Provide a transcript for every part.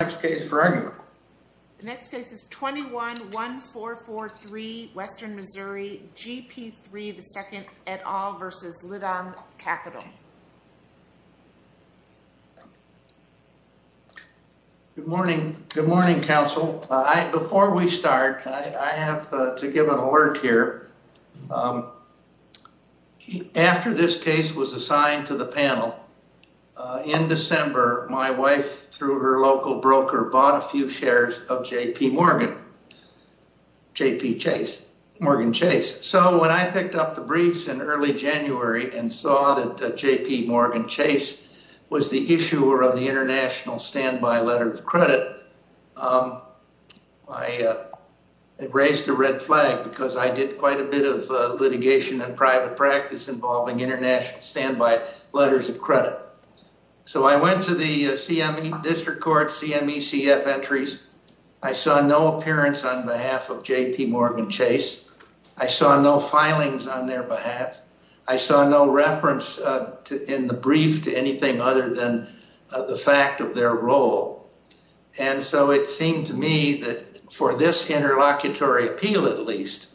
Next case is 21-1443, Western Missouri, GP3 II, Etoll v. Litong Capital. Good morning. Good morning, counsel. Before we start, I have to give an alert here. After this case was assigned to the panel, in December, my wife, through her local broker, bought a few shares of JPMorgan Chase. When I picked up the briefs in early January and saw that JPMorgan Chase was the issuer of the International Standby Letter of Credit, it raised a red flag because I did quite a bit of litigation and private practice involving International Standby Letters of Credit. So I went to the District Court CME-CF entries. I saw no appearance on behalf of JPMorgan Chase. I saw no filings on their behalf. I saw no reference in the brief to anything other than the fact of their role. And so it seemed to me that for this interlocutory appeal, at least,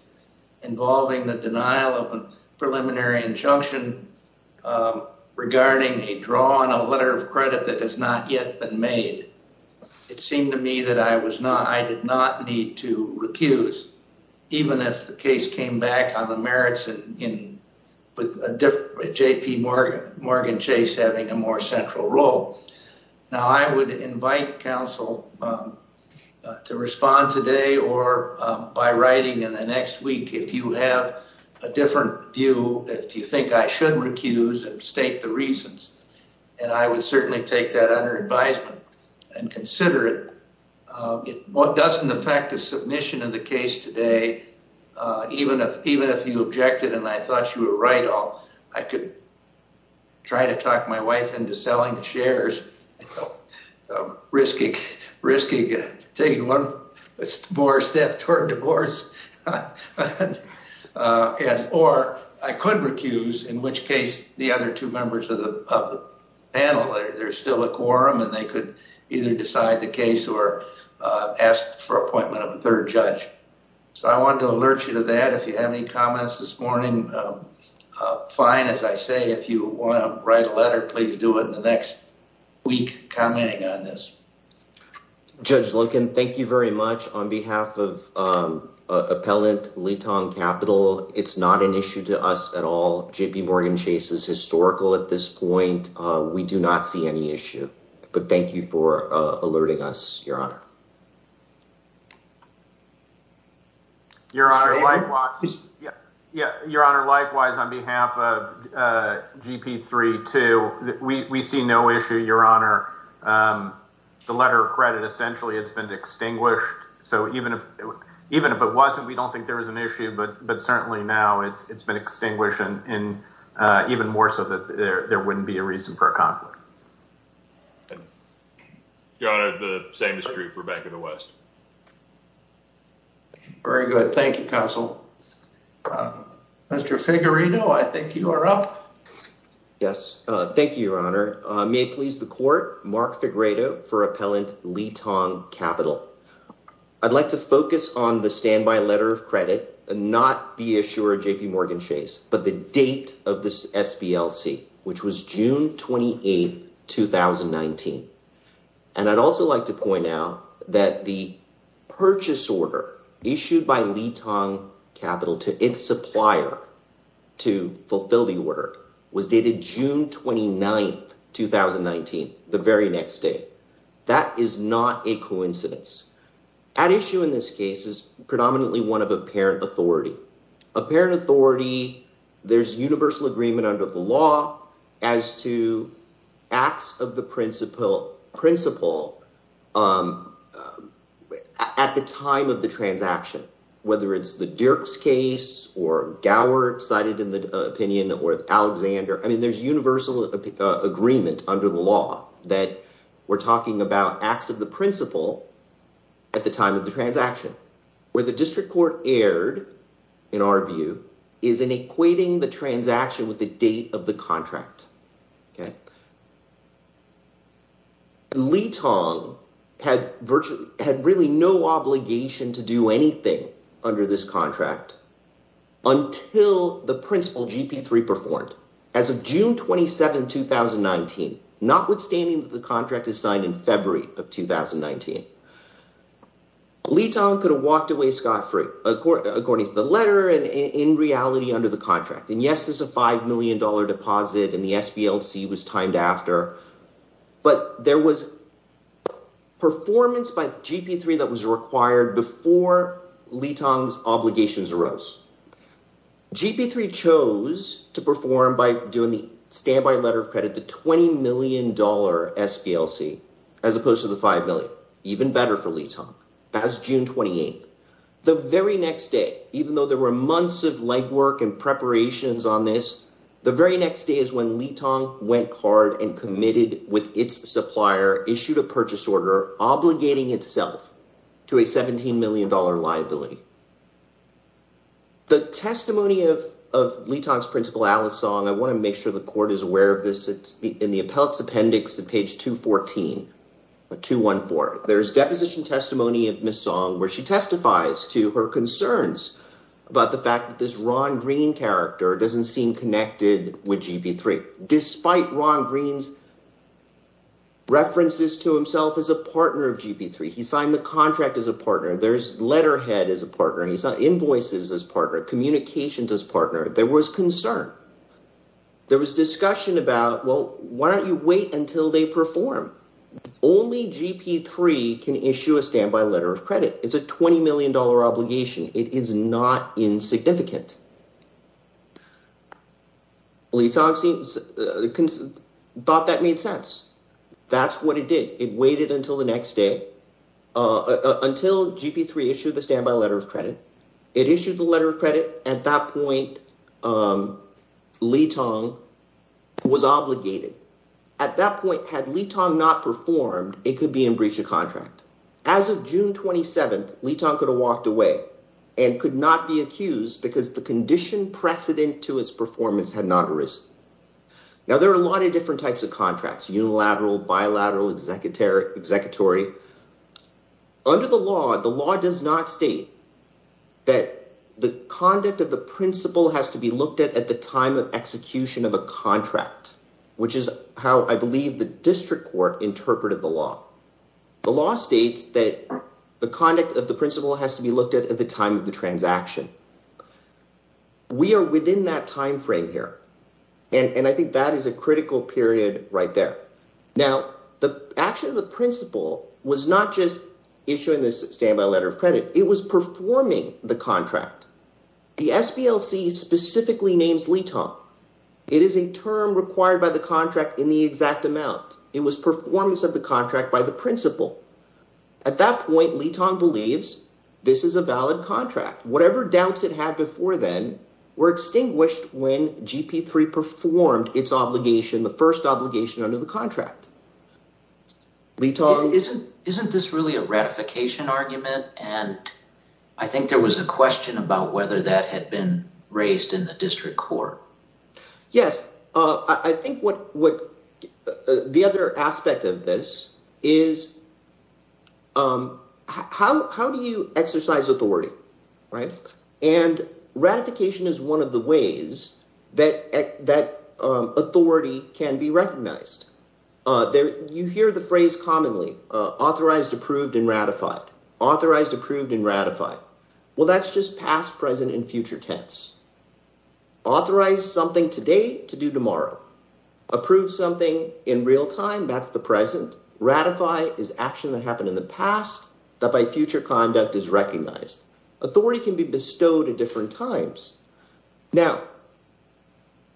involving the denial of a preliminary injunction regarding a draw on a letter of credit that has not yet been made, it seemed to me that I did not need to recuse, even if the case came back on the merits of JPMorgan Chase having a more central role. Now, I would invite counsel to respond today or by writing in the next week if you have a different view, if you think I should recuse and state the reasons. And I would certainly take that under advisement and consider it. It doesn't affect the submission of the case today, even if you objected and I thought you were right. I could try to talk my wife into selling the shares, risking taking one more step toward divorce. Or I could recuse, in which case the other two members of the panel, there's still a quorum and they could either decide the case or ask for appointment of a third judge. So I wanted to alert you to that. If you have any comments this morning, fine. As I say, if you want to write a letter, please do it in the next week commenting on this. Judge Lincoln, thank you very much on behalf of Appellant Leetong Capital. It's not an issue to us at all. JPMorgan Chase is historical at this point. We do not see any issue, but thank you for alerting us, Your Honor. Your Honor, likewise, on behalf of GP32, we see no issue, Your Honor. The letter of credit, essentially, it's been extinguished. So even if it wasn't, we don't think there was an issue. But certainly now it's been extinguished and even more so that there wouldn't be a reason for a conflict. Your Honor, the same is true for Bank of the West. Very good. Thank you, Counsel. Mr. Figueredo, I think you are up. Yes. Thank you, Your Honor. May it please the court, Mark Figueredo for Appellant Leetong Capital. I'd like to focus on the standby letter of credit and not the issuer, JPMorgan Chase, but the date of this SPLC, which was June 28th, 2019. And I'd also like to point out that the purchase order issued by Leetong Capital to its supplier to fulfill the order was dated June 29th, 2019, the very next day. That is not a coincidence. At issue in this case is predominantly one of apparent authority, apparent authority. There's universal agreement under the law as to acts of the principal principle at the time of the transaction, whether it's the Dirks case or Gower cited in the opinion or Alexander. I mean, there's universal agreement under the law that we're talking about acts of the principal at the time of the transaction where the district court erred, in our view, is in equating the transaction with the date of the contract. Leetong had virtually had really no obligation to do anything under this contract until the principal GP three performed as of June 27th, 2019, notwithstanding the contract is signed in February of 2019. Leetong could have walked away scot-free according to the letter and in reality under the contract. And yes, there's a $5 million deposit in the SPLC was timed after, but there was performance by GP three that was required before Leetong's obligations arose. GP three chose to perform by doing the standby letter of credit, the $20 million SPLC as opposed to the 5 million, even better for Leetong as June 28th, the very next day, even though there were months of legwork and preparations on this. The very next day is when Leetong went hard and committed with its supplier, issued a purchase order, obligating itself to a $17 million liability. The testimony of Leetong's principal, Alice Song, I want to make sure the court is aware of this. In the appellate's appendix to page 214, there's deposition testimony of Ms. Song, where she testifies to her concerns about the fact that this Ron Green character doesn't seem connected with GP three. Despite Ron Green's references to himself as a partner of GP three, he signed the contract as a partner. There's letterhead as a partner. He's not invoices as partner communications as partner. There was concern. There was discussion about, well, why don't you wait until they perform? Only GP three can issue a standby letter of credit. It's a $20 million obligation. It is not insignificant. Leetong thought that made sense. That's what it did. It waited until the next day until GP three issued the standby letter of credit. It issued the letter of credit. At that point, Leetong was obligated. At that point, had Leetong not performed, it could be in breach of contract. As of June 27th, Leetong could have walked away and could not be accused because the condition precedent to its performance had not arisen. Now, there are a lot of different types of contracts, unilateral, bilateral, executive, executory. Under the law, the law does not state that the conduct of the principle has to be looked at at the time of execution of a contract, which is how I believe the district court interpreted the law. The law states that the conduct of the principle has to be looked at at the time of the transaction. We are within that time frame here, and I think that is a critical period right there. Now, the action of the principle was not just issuing this standby letter of credit. It was performing the contract. The SPLC specifically names Leetong. It is a term required by the contract in the exact amount. It was performance of the contract by the principle. At that point, Leetong believes this is a valid contract. Whatever doubts it had before then were extinguished when GP3 performed its obligation, the first obligation under the contract. Leetong… Isn't this really a ratification argument? And I think there was a question about whether that had been raised in the district court. Yes. I think what – the other aspect of this is how do you exercise authority, right? And ratification is one of the ways that authority can be recognized. You hear the phrase commonly, authorized, approved, and ratified, authorized, approved, and ratified. Well, that's just past, present, and future tense. Authorize something today to do tomorrow. Approve something in real time. That's the present. Ratify is action that happened in the past that by future conduct is recognized. Authority can be bestowed at different times. Now,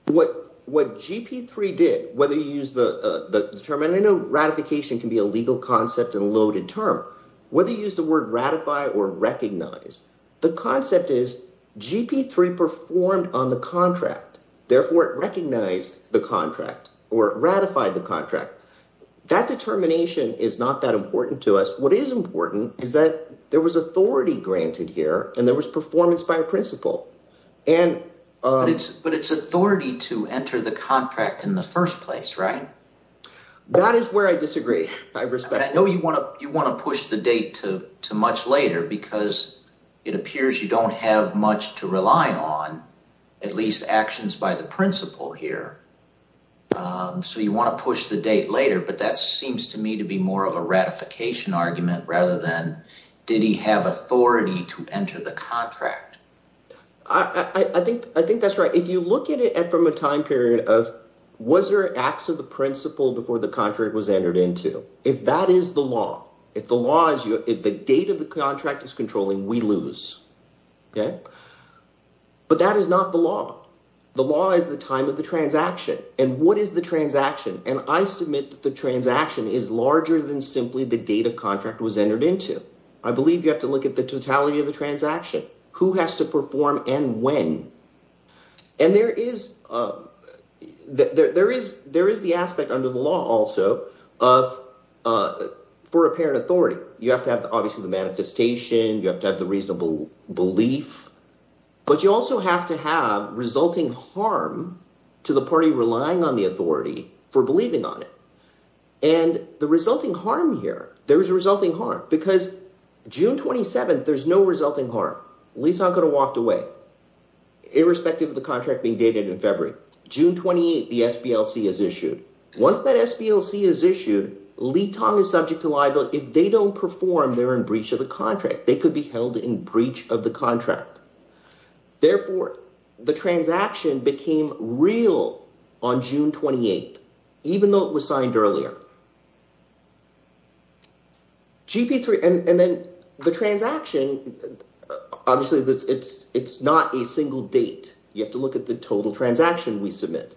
what GP3 did, whether you use the term – and I know ratification can be a legal concept and a loaded term. Whether you use the word ratify or recognize, the concept is GP3 performed on the contract. Therefore, it recognized the contract or it ratified the contract. That determination is not that important to us. What is important is that there was authority granted here and there was performance by principle. And – But it's authority to enter the contract in the first place, right? That is where I disagree. I respect – And I know you want to push the date to much later because it appears you don't have much to rely on, at least actions by the principle here. So you want to push the date later, but that seems to me to be more of a ratification argument rather than did he have authority to enter the contract. I think that's right. Now, if you look at it from a time period of – was there acts of the principle before the contract was entered into? If that is the law, if the law is – if the date of the contract is controlling, we lose. But that is not the law. The law is the time of the transaction, and what is the transaction? And I submit that the transaction is larger than simply the date a contract was entered into. I believe you have to look at the totality of the transaction, who has to perform and when. And there is – there is the aspect under the law also of – for apparent authority. You have to have obviously the manifestation. You have to have the reasonable belief. But you also have to have resulting harm to the party relying on the authority for believing on it. And the resulting harm here – there is a resulting harm because June 27th, there's no resulting harm. Li Tang could have walked away irrespective of the contract being dated in February. June 28th, the SPLC is issued. Once that SPLC is issued, Li Tang is subject to liability. If they don't perform, they're in breach of the contract. They could be held in breach of the contract. Therefore, the transaction became real on June 28th even though it was signed earlier. GP3 – and then the transaction, obviously it's not a single date. You have to look at the total transaction we submit.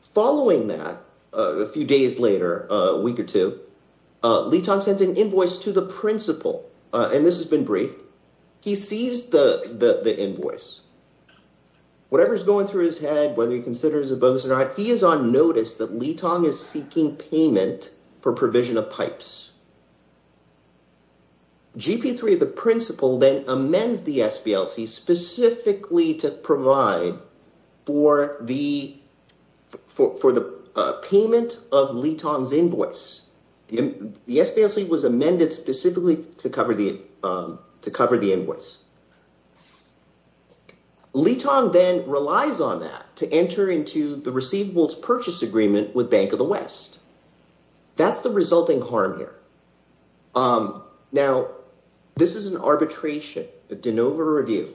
Following that, a few days later, a week or two, Li Tang sends an invoice to the principal, and this has been briefed. He sees the invoice. Whatever is going through his head, whether he considers it a bonus or not, he is on notice that Li Tang is seeking payment for provision of pipes. GP3, the principal, then amends the SPLC specifically to provide for the payment of Li Tang's invoice. The SPLC was amended specifically to cover the invoice. Li Tang then relies on that to enter into the receivables purchase agreement with Bank of the West. That's the resulting harm here. Now, this is an arbitration, a de novo review.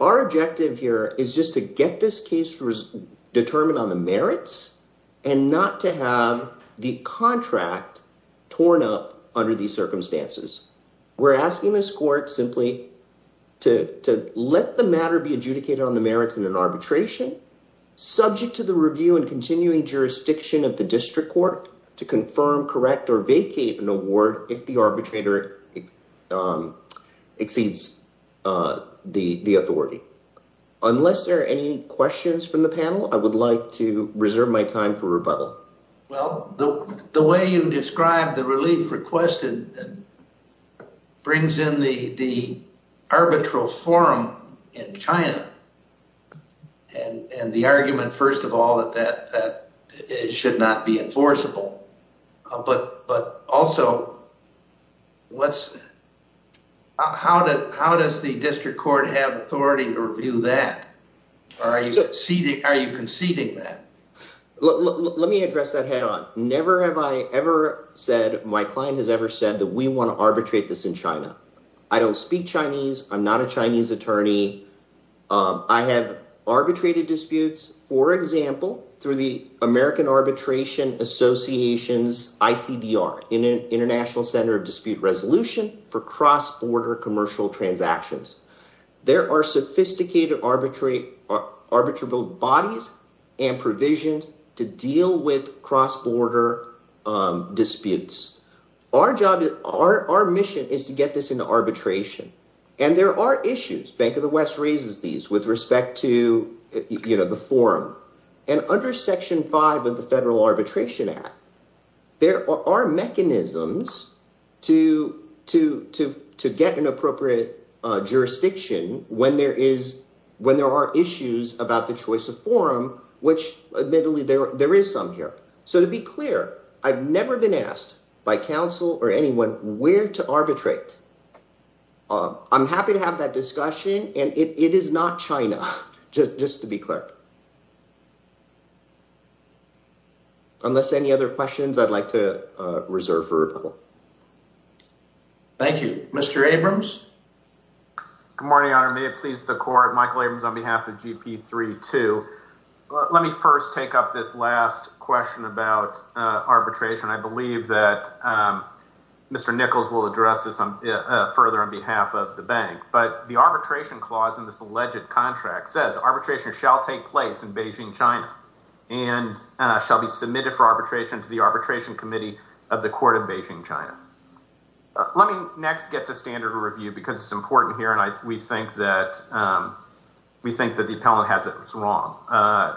Our objective here is just to get this case determined on the merits and not to have the contract torn up under these circumstances. We're asking this court simply to let the matter be adjudicated on the merits in an arbitration subject to the review and continuing jurisdiction of the district court to confirm, correct, or vacate an award if the arbitrator exceeds the authority. Unless there are any questions from the panel, I would like to reserve my time for rebuttal. Well, the way you describe the relief requested brings in the arbitral forum in China and the argument, first of all, that it should not be enforceable. But also, how does the district court have authority to review that? Are you conceding that? Let me address that head on. Never have I ever said – my client has ever said that we want to arbitrate this in China. I don't speak Chinese. I'm not a Chinese attorney. I have arbitrated disputes, for example, through the American Arbitration Association's ICDR, International Center of Dispute Resolution, for cross-border commercial transactions. There are sophisticated arbitrable bodies and provisions to deal with cross-border disputes. Our job is – our mission is to get this into arbitration, and there are issues. Bank of the West raises these with respect to the forum. And under Section 5 of the Federal Arbitration Act, there are mechanisms to get an appropriate jurisdiction when there is – when there are issues about the choice of forum, which admittedly there is some here. So to be clear, I've never been asked by counsel or anyone where to arbitrate. I'm happy to have that discussion, and it is not China, just to be clear. Unless any other questions, I'd like to reserve for rebuttal. Thank you. Mr. Abrams? Good morning, Your Honor. May it please the court. Michael Abrams on behalf of GP32. Let me first take up this last question about arbitration. I believe that Mr. Nichols will address this further on behalf of the bank. But the arbitration clause in this alleged contract says arbitration shall take place in Beijing, China and shall be submitted for arbitration to the Arbitration Committee of the Court of Beijing, China. Let me next get to standard of review because it's important here, and we think that the appellant has it wrong.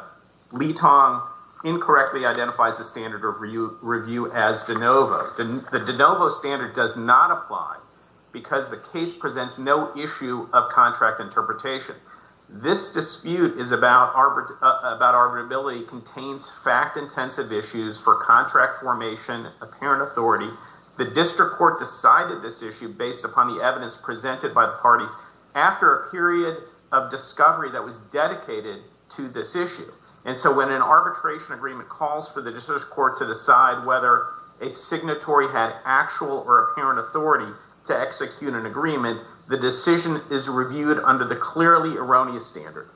Li Tong incorrectly identifies the standard of review as de novo. The de novo standard does not apply because the case presents no issue of contract interpretation. This dispute about arbitrability contains fact-intensive issues for contract formation, apparent authority. The district court decided this issue based upon the evidence presented by the parties after a period of discovery that was dedicated to this issue. And so when an arbitration agreement calls for the district court to decide whether a signatory had actual or apparent authority to execute an agreement, the decision is reviewed under the clearly erroneous standard.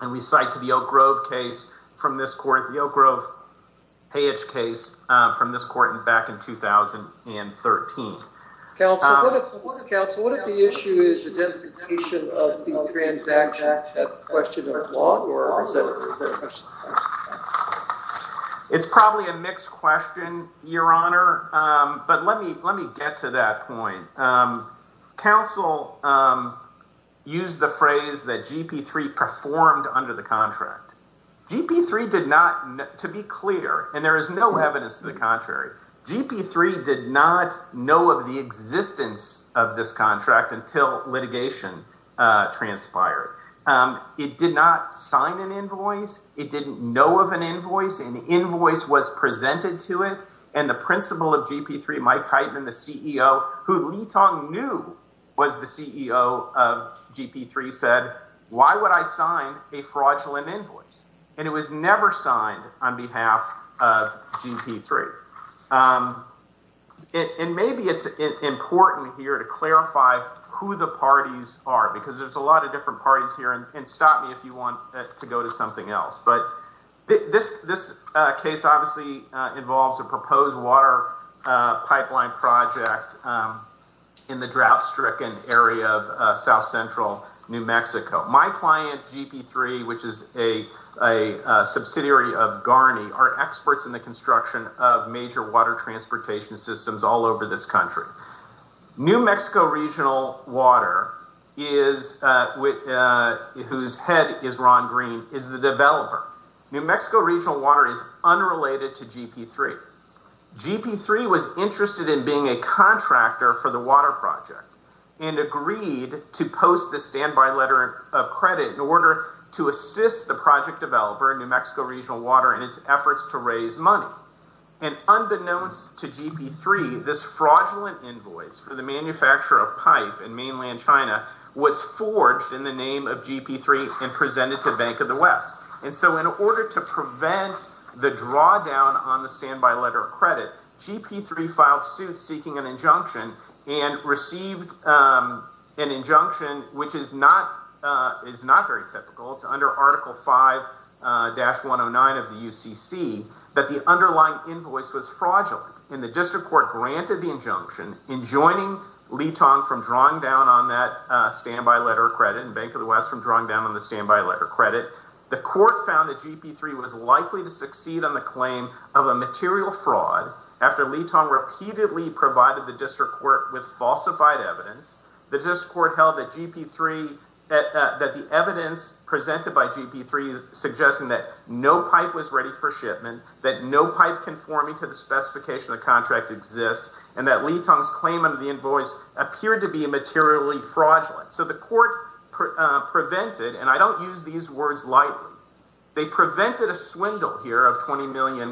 And we cite to the Oak Grove case from this court, the Oak Grove Hayage case from this court back in 2013. Counsel, what if the issue is identification of the transaction at question of law? It's probably a mixed question, Your Honor, but let me let me get to that point. Counsel used the phrase that GP3 performed under the contract. GP3 did not, to be clear, and there is no evidence to the contrary, GP3 did not know of the existence of this contract until litigation transpired. It did not sign an invoice. It didn't know of an invoice. An invoice was presented to it. And the principal of GP3, Mike Heitman, the CEO, who Lee Tong knew was the CEO of GP3, said, why would I sign a fraudulent invoice? And it was never signed on behalf of GP3. And maybe it's important here to clarify who the parties are, because there's a lot of different parties here. And stop me if you want to go to something else. But this case obviously involves a proposed water pipeline project in the drought stricken area of south central New Mexico. My client, GP3, which is a subsidiary of GARNI, are experts in the construction of major water transportation systems all over this country. New Mexico Regional Water, whose head is Ron Green, is the developer. New Mexico Regional Water is unrelated to GP3. GP3 was interested in being a contractor for the water project and agreed to post the standby letter of credit in order to assist the project developer, New Mexico Regional Water, in its efforts to raise money. And unbeknownst to GP3, this fraudulent invoice for the manufacture of pipe in mainland China was forged in the name of GP3 and presented to Bank of the West. And so in order to prevent the drawdown on the standby letter of credit, GP3 filed suit seeking an injunction and received an injunction, which is not very typical. It's under Article 5-109 of the UCC, that the underlying invoice was fraudulent. And the district court granted the injunction in joining Litong from drawing down on that standby letter of credit and Bank of the West from drawing down on the standby letter of credit. The court found that GP3 was likely to succeed on the claim of a material fraud after Litong repeatedly provided the district court with falsified evidence. The district court held that the evidence presented by GP3 suggested that no pipe was ready for shipment, that no pipe conforming to the specification of the contract exists, and that Litong's claim under the invoice appeared to be materially fraudulent. So the court prevented, and I don't use these words lightly, they prevented a swindle here of $20 million.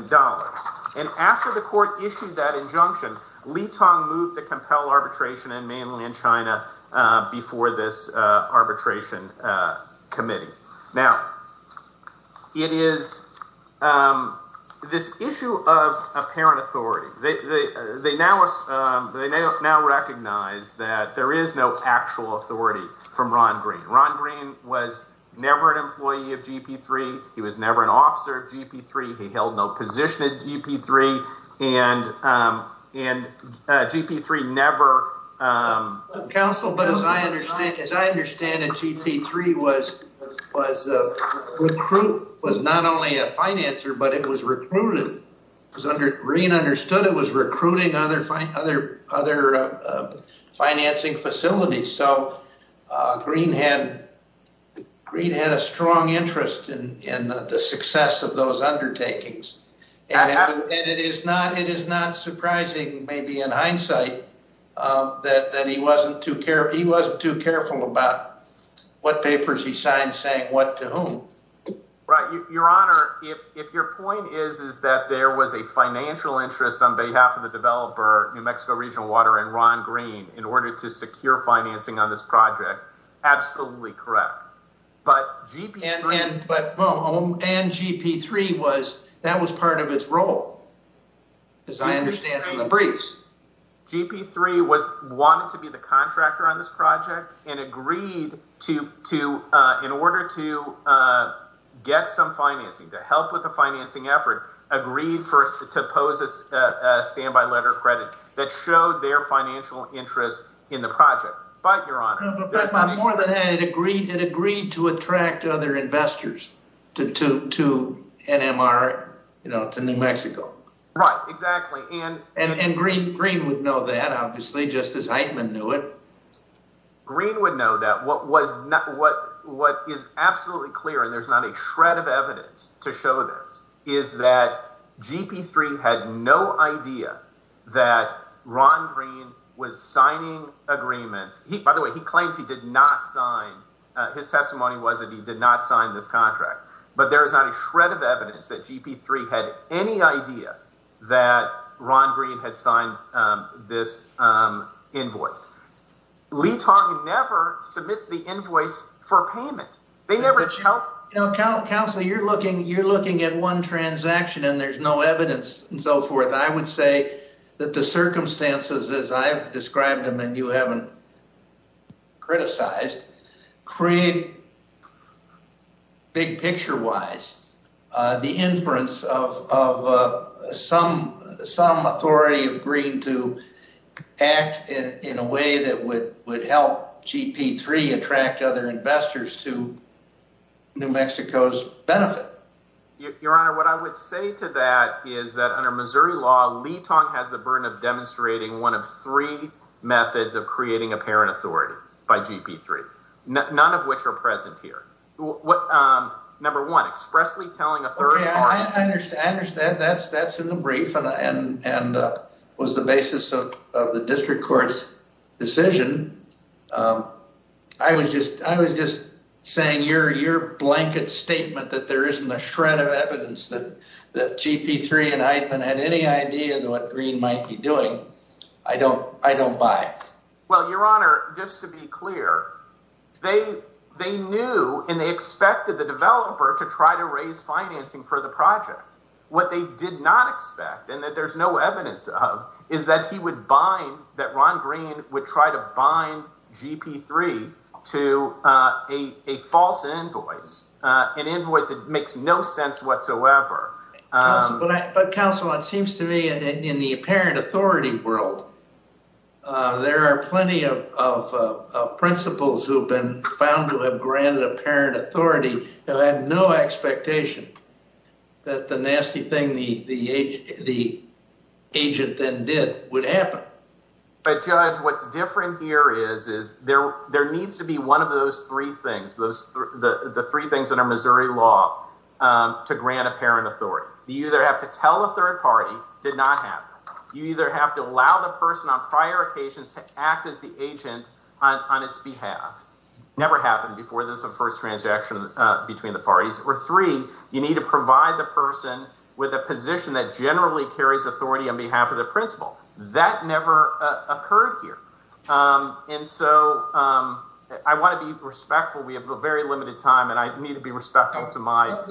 And after the court issued that injunction, Litong moved to compel arbitration in mainland China before this arbitration committee. Now, it is this issue of apparent authority. They now recognize that there is no actual authority from Ron Green. Ron Green was never an employee of GP3. He was never an officer of GP3. He held no position at GP3. And GP3 never— Counsel, but as I understand it, GP3 was not only a financer, but it was recruited. Green understood it was recruiting other financing facilities. So Green had a strong interest in the success of those undertakings. And it is not surprising, maybe in hindsight, that he wasn't too careful about what papers he signed saying what to whom. Right. Your Honor, if your point is that there was a financial interest on behalf of the developer, New Mexico Regional Water, and Ron Green, in order to secure financing on this project, absolutely correct. But GP3— And GP3 was—that was part of its role, as I understand from the briefs. GP3 was—wanted to be the contractor on this project and agreed to, in order to get some financing, to help with the financing effort, agreed to pose a standby letter of credit that showed their financial interest in the project. But, Your Honor— But more than that, it agreed to attract other investors to NMR, to New Mexico. Right. Exactly. And— Green would know that, obviously, just as Eichmann knew it. Green would know that. What was—what is absolutely clear, and there's not a shred of evidence to show this, is that GP3 had no idea that Ron Green was signing agreements. By the way, he claims he did not sign—his testimony was that he did not sign this contract. But there is not a shred of evidence that GP3 had any idea that Ron Green had signed this invoice. Lee Tong never submits the invoice for payment. They never— You know, counsel, you're looking—you're looking at one transaction, and there's no evidence and so forth. I would say that the circumstances, as I've described them and you haven't criticized, create, big-picture-wise, the inference of some authority of Green to act in a way that would help GP3 attract other investors to New Mexico. Your Honor, what I would say to that is that under Missouri law, Lee Tong has the burden of demonstrating one of three methods of creating apparent authority by GP3, none of which are present here. Number one, expressly telling a third party— Okay, I understand. That's in the brief and was the basis of the district court's decision. I was just saying your blanket statement that there isn't a shred of evidence that GP3 and Eidman had any idea of what Green might be doing, I don't buy. Well, your Honor, just to be clear, they knew and they expected the developer to try to raise financing for the project. What they did not expect and that there's no evidence of is that he would bind—that Ron Green would try to bind GP3 to a false invoice, an invoice that makes no sense whatsoever. But, counsel, it seems to me in the apparent authority world, there are plenty of principals who have been found to have granted apparent authority that had no expectation that the nasty thing the agent then did would happen. But, Judge, what's different here is there needs to be one of those three things, the three things under Missouri law to grant apparent authority. You either have to tell a third party it did not happen. You either have to allow the person on prior occasions to act as the agent on its behalf. Never happened before. There's a first transaction between the parties. Or three, you need to provide the person with a position that generally carries authority on behalf of the principal. That never occurred here. And so I want to be respectful. We have a very limited time and I need to be respectful to my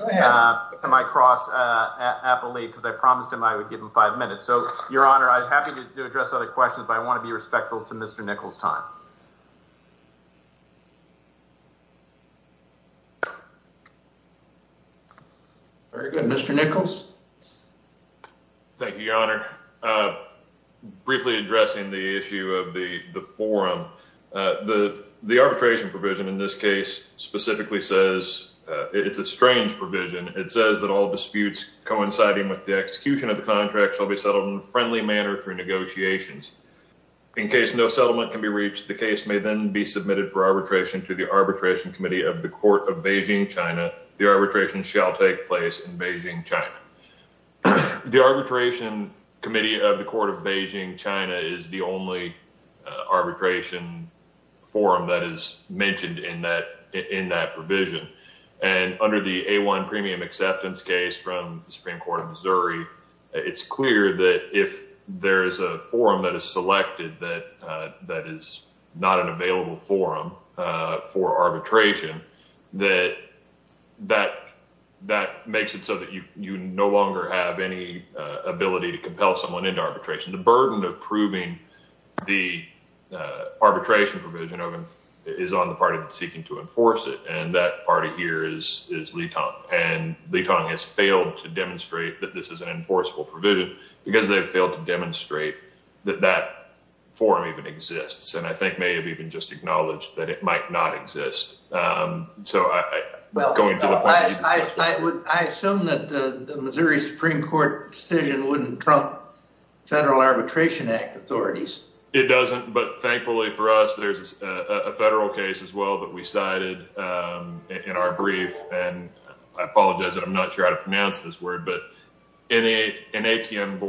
cross-appellate because I promised him I would give him five minutes. So, Your Honor, I'm happy to address other questions, but I want to be respectful to Mr. Nichols' time. Very good. Mr. Nichols. Thank you, Your Honor. Briefly addressing the issue of the forum, the arbitration provision in this case specifically says it's a strange provision. It says that all disputes coinciding with the execution of the contract shall be settled in a friendly manner through negotiations. In case no settlement can be reached, the case may then be submitted for arbitration to the Arbitration Committee of the Court of Beijing, China. The arbitration shall take place in Beijing, China. The Arbitration Committee of the Court of Beijing, China is the only arbitration forum that is mentioned in that provision. And under the A1 premium acceptance case from the Supreme Court of Missouri, it's clear that if there is a forum that is selected that is not an available forum for arbitration, that makes it so that you no longer have any ability to compel someone into arbitration. The burden of proving the arbitration provision is on the party that's seeking to enforce it, and that party here is Litang. And Litang has failed to demonstrate that this is an enforceable provision because they've failed to demonstrate that that forum even exists, and I think may have even just acknowledged that it might not exist. I assume that the Missouri Supreme Court decision wouldn't trump Federal Arbitration Act authorities. It doesn't, but thankfully for us, there's a federal case as well that we cited in our brief, and I apologize that I'm not sure how to pronounce this word. But in an ATM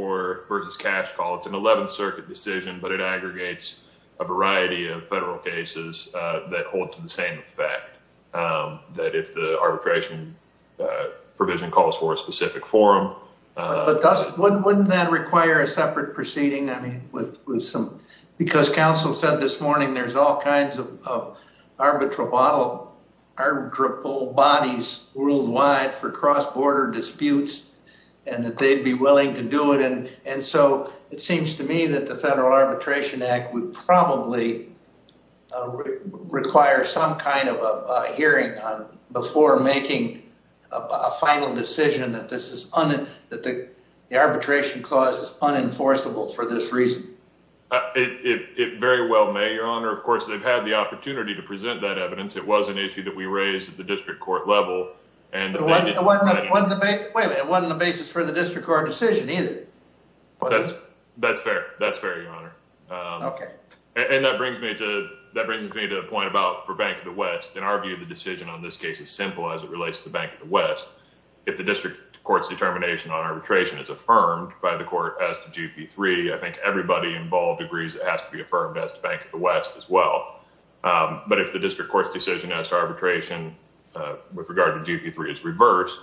versus cash call, it's an 11th Circuit decision, but it aggregates a variety of federal cases that hold to the same fact that if the arbitration provision calls for a specific forum. But wouldn't that require a separate proceeding? I mean, because counsel said this morning there's all kinds of arbitrable bodies worldwide for cross-border disputes, and that they'd be willing to do it. And so it seems to me that the Federal Arbitration Act would probably require some kind of a hearing before making a final decision that the arbitration clause is unenforceable for this reason. It very well may, Your Honor. Of course, they've had the opportunity to present that evidence. It was an issue that we raised at the district court level. Wait a minute. It wasn't a basis for the district court decision either. That's fair. That's fair, Your Honor. Okay. And that brings me to a point about for Bank of the West. In our view, the decision on this case is simple as it relates to Bank of the West. If the district court's determination on arbitration is affirmed by the court as to GP3, I think everybody involved agrees it has to be affirmed as to Bank of the West as well. But if the district court's decision as to arbitration with regard to GP3 is reversed,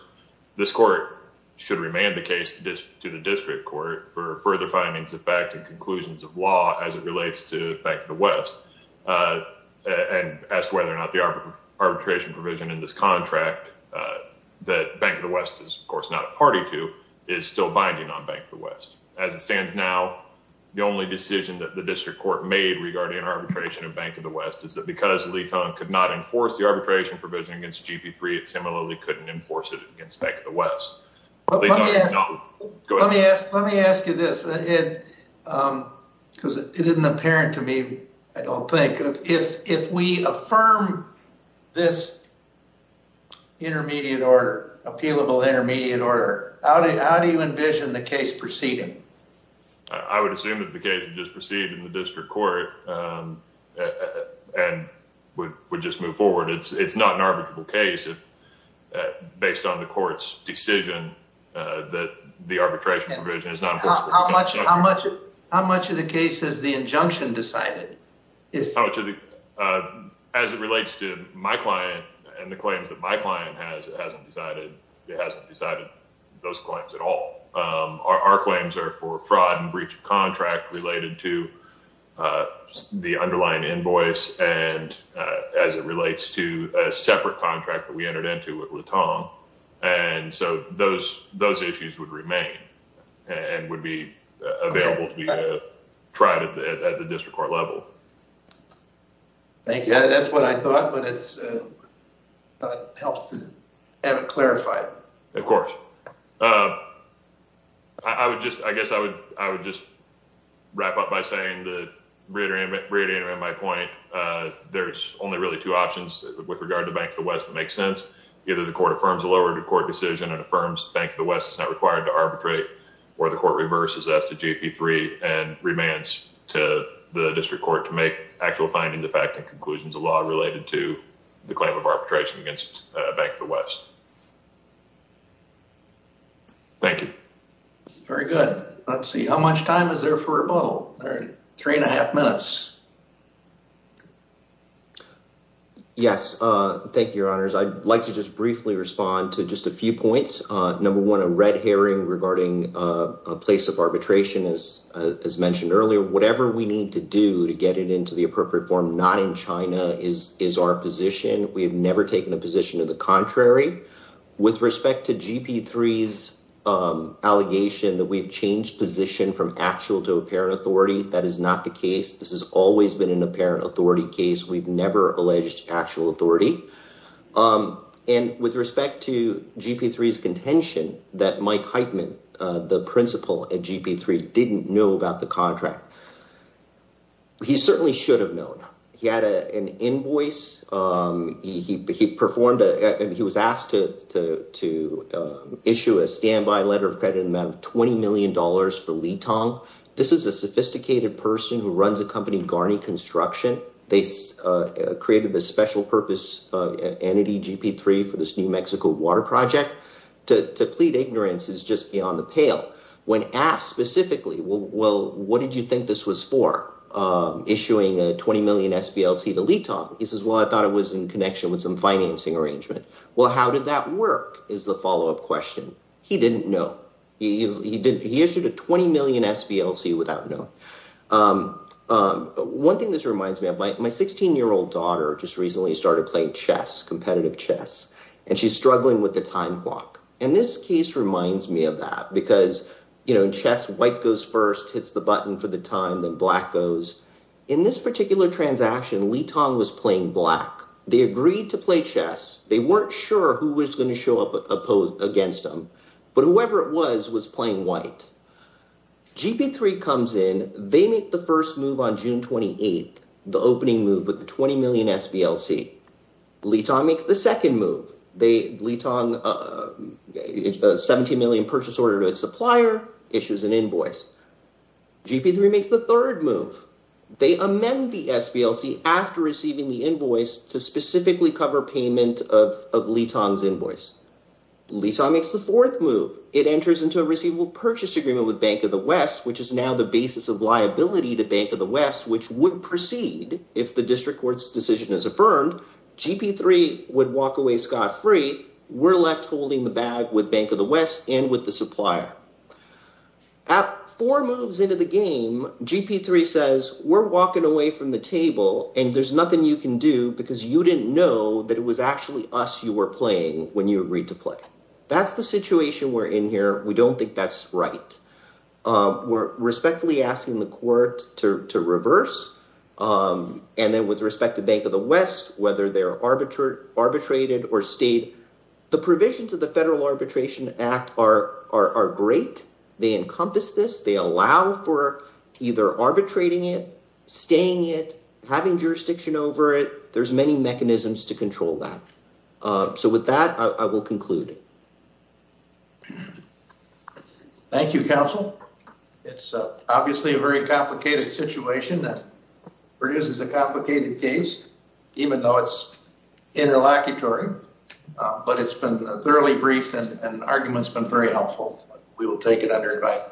this court should remand the case to the district court for further findings of fact and conclusions of law as it relates to Bank of the West. And as to whether or not the arbitration provision in this contract that Bank of the West is, of course, not a party to is still binding on Bank of the West. As it stands now, the only decision that the district court made regarding arbitration of Bank of the West is that because Lee Cohen could not enforce the arbitration provision against GP3, it similarly couldn't enforce it against Bank of the West. Let me ask you this, because it isn't apparent to me, I don't think. If we affirm this appealable intermediate order, how do you envision the case proceeding? I would assume that the case just proceeded in the district court and would just move forward. It's not an arbitrable case, based on the court's decision that the arbitration provision is not enforceable. How much of the case has the injunction decided? As it relates to my client and the claims that my client has, it hasn't decided those claims at all. Our claims are for fraud and breach of contract related to the underlying invoice. As it relates to a separate contract that we entered into with Tom, those issues would remain and would be available to be tried at the district court level. Thank you. That's what I thought, but it hasn't been clarified. Of course. I guess I would just wrap up by saying that, reiterating my point, there's only really two options with regard to Bank of the West that make sense. Either the court affirms a lower court decision and affirms Bank of the West is not required to arbitrate, or the court reverses that to GP3 and remands to the district court to make actual findings, and to the fact and conclusions of law related to the claim of arbitration against Bank of the West. Thank you. Very good. Let's see. How much time is there for rebuttal? Three and a half minutes. Yes. Thank you, Your Honors. I'd like to just briefly respond to just a few points. Number one, a red herring regarding a place of arbitration, as mentioned earlier. Whatever we need to do to get it into the appropriate form, not in China, is our position. We have never taken a position of the contrary. With respect to GP3's allegation that we've changed position from actual to apparent authority, that is not the case. This has always been an apparent authority case. We've never alleged actual authority. And with respect to GP3's contention that Mike Heitman, the principal at GP3, didn't know about the contract, he certainly should have known. He had an invoice. He performed – he was asked to issue a standby letter of credit in the amount of $20 million for Litong. This is a sophisticated person who runs a company, Garni Construction. They created this special purpose entity, GP3, for this New Mexico water project. To plead ignorance is just beyond the pale. When asked specifically, well, what did you think this was for, issuing a $20 million SBLC to Litong? He says, well, I thought it was in connection with some financing arrangement. Well, how did that work, is the follow-up question. He didn't know. He issued a $20 million SBLC without knowing. One thing this reminds me of, my 16-year-old daughter just recently started playing chess, competitive chess, and she's struggling with the time clock. And this case reminds me of that because in chess, white goes first, hits the button for the time, then black goes. In this particular transaction, Litong was playing black. They agreed to play chess. They weren't sure who was going to show up against them, but whoever it was was playing white. GP3 comes in. They make the first move on June 28th, the opening move with the $20 million SBLC. Litong makes the second move. Litong, $17 million purchase order to its supplier, issues an invoice. GP3 makes the third move. They amend the SBLC after receiving the invoice to specifically cover payment of Litong's invoice. Litong makes the fourth move. It enters into a receivable purchase agreement with Bank of the West, which is now the basis of liability to Bank of the West, which would proceed if the district court's decision is affirmed. GP3 would walk away scot-free. We're left holding the bag with Bank of the West and with the supplier. At four moves into the game, GP3 says, we're walking away from the table, and there's nothing you can do because you didn't know that it was actually us you were playing when you agreed to play. That's the situation we're in here. We don't think that's right. We're respectfully asking the court to reverse. And then with respect to Bank of the West, whether they're arbitrated or stayed, the provisions of the Federal Arbitration Act are great. They encompass this. They allow for either arbitrating it, staying it, having jurisdiction over it. There's many mechanisms to control that. So with that, I will conclude. Thank you, Counsel. It's obviously a very complicated situation that produces a complicated case, even though it's interlocutory. But it's been thoroughly briefed, and the argument's been very helpful. We will take it under invite.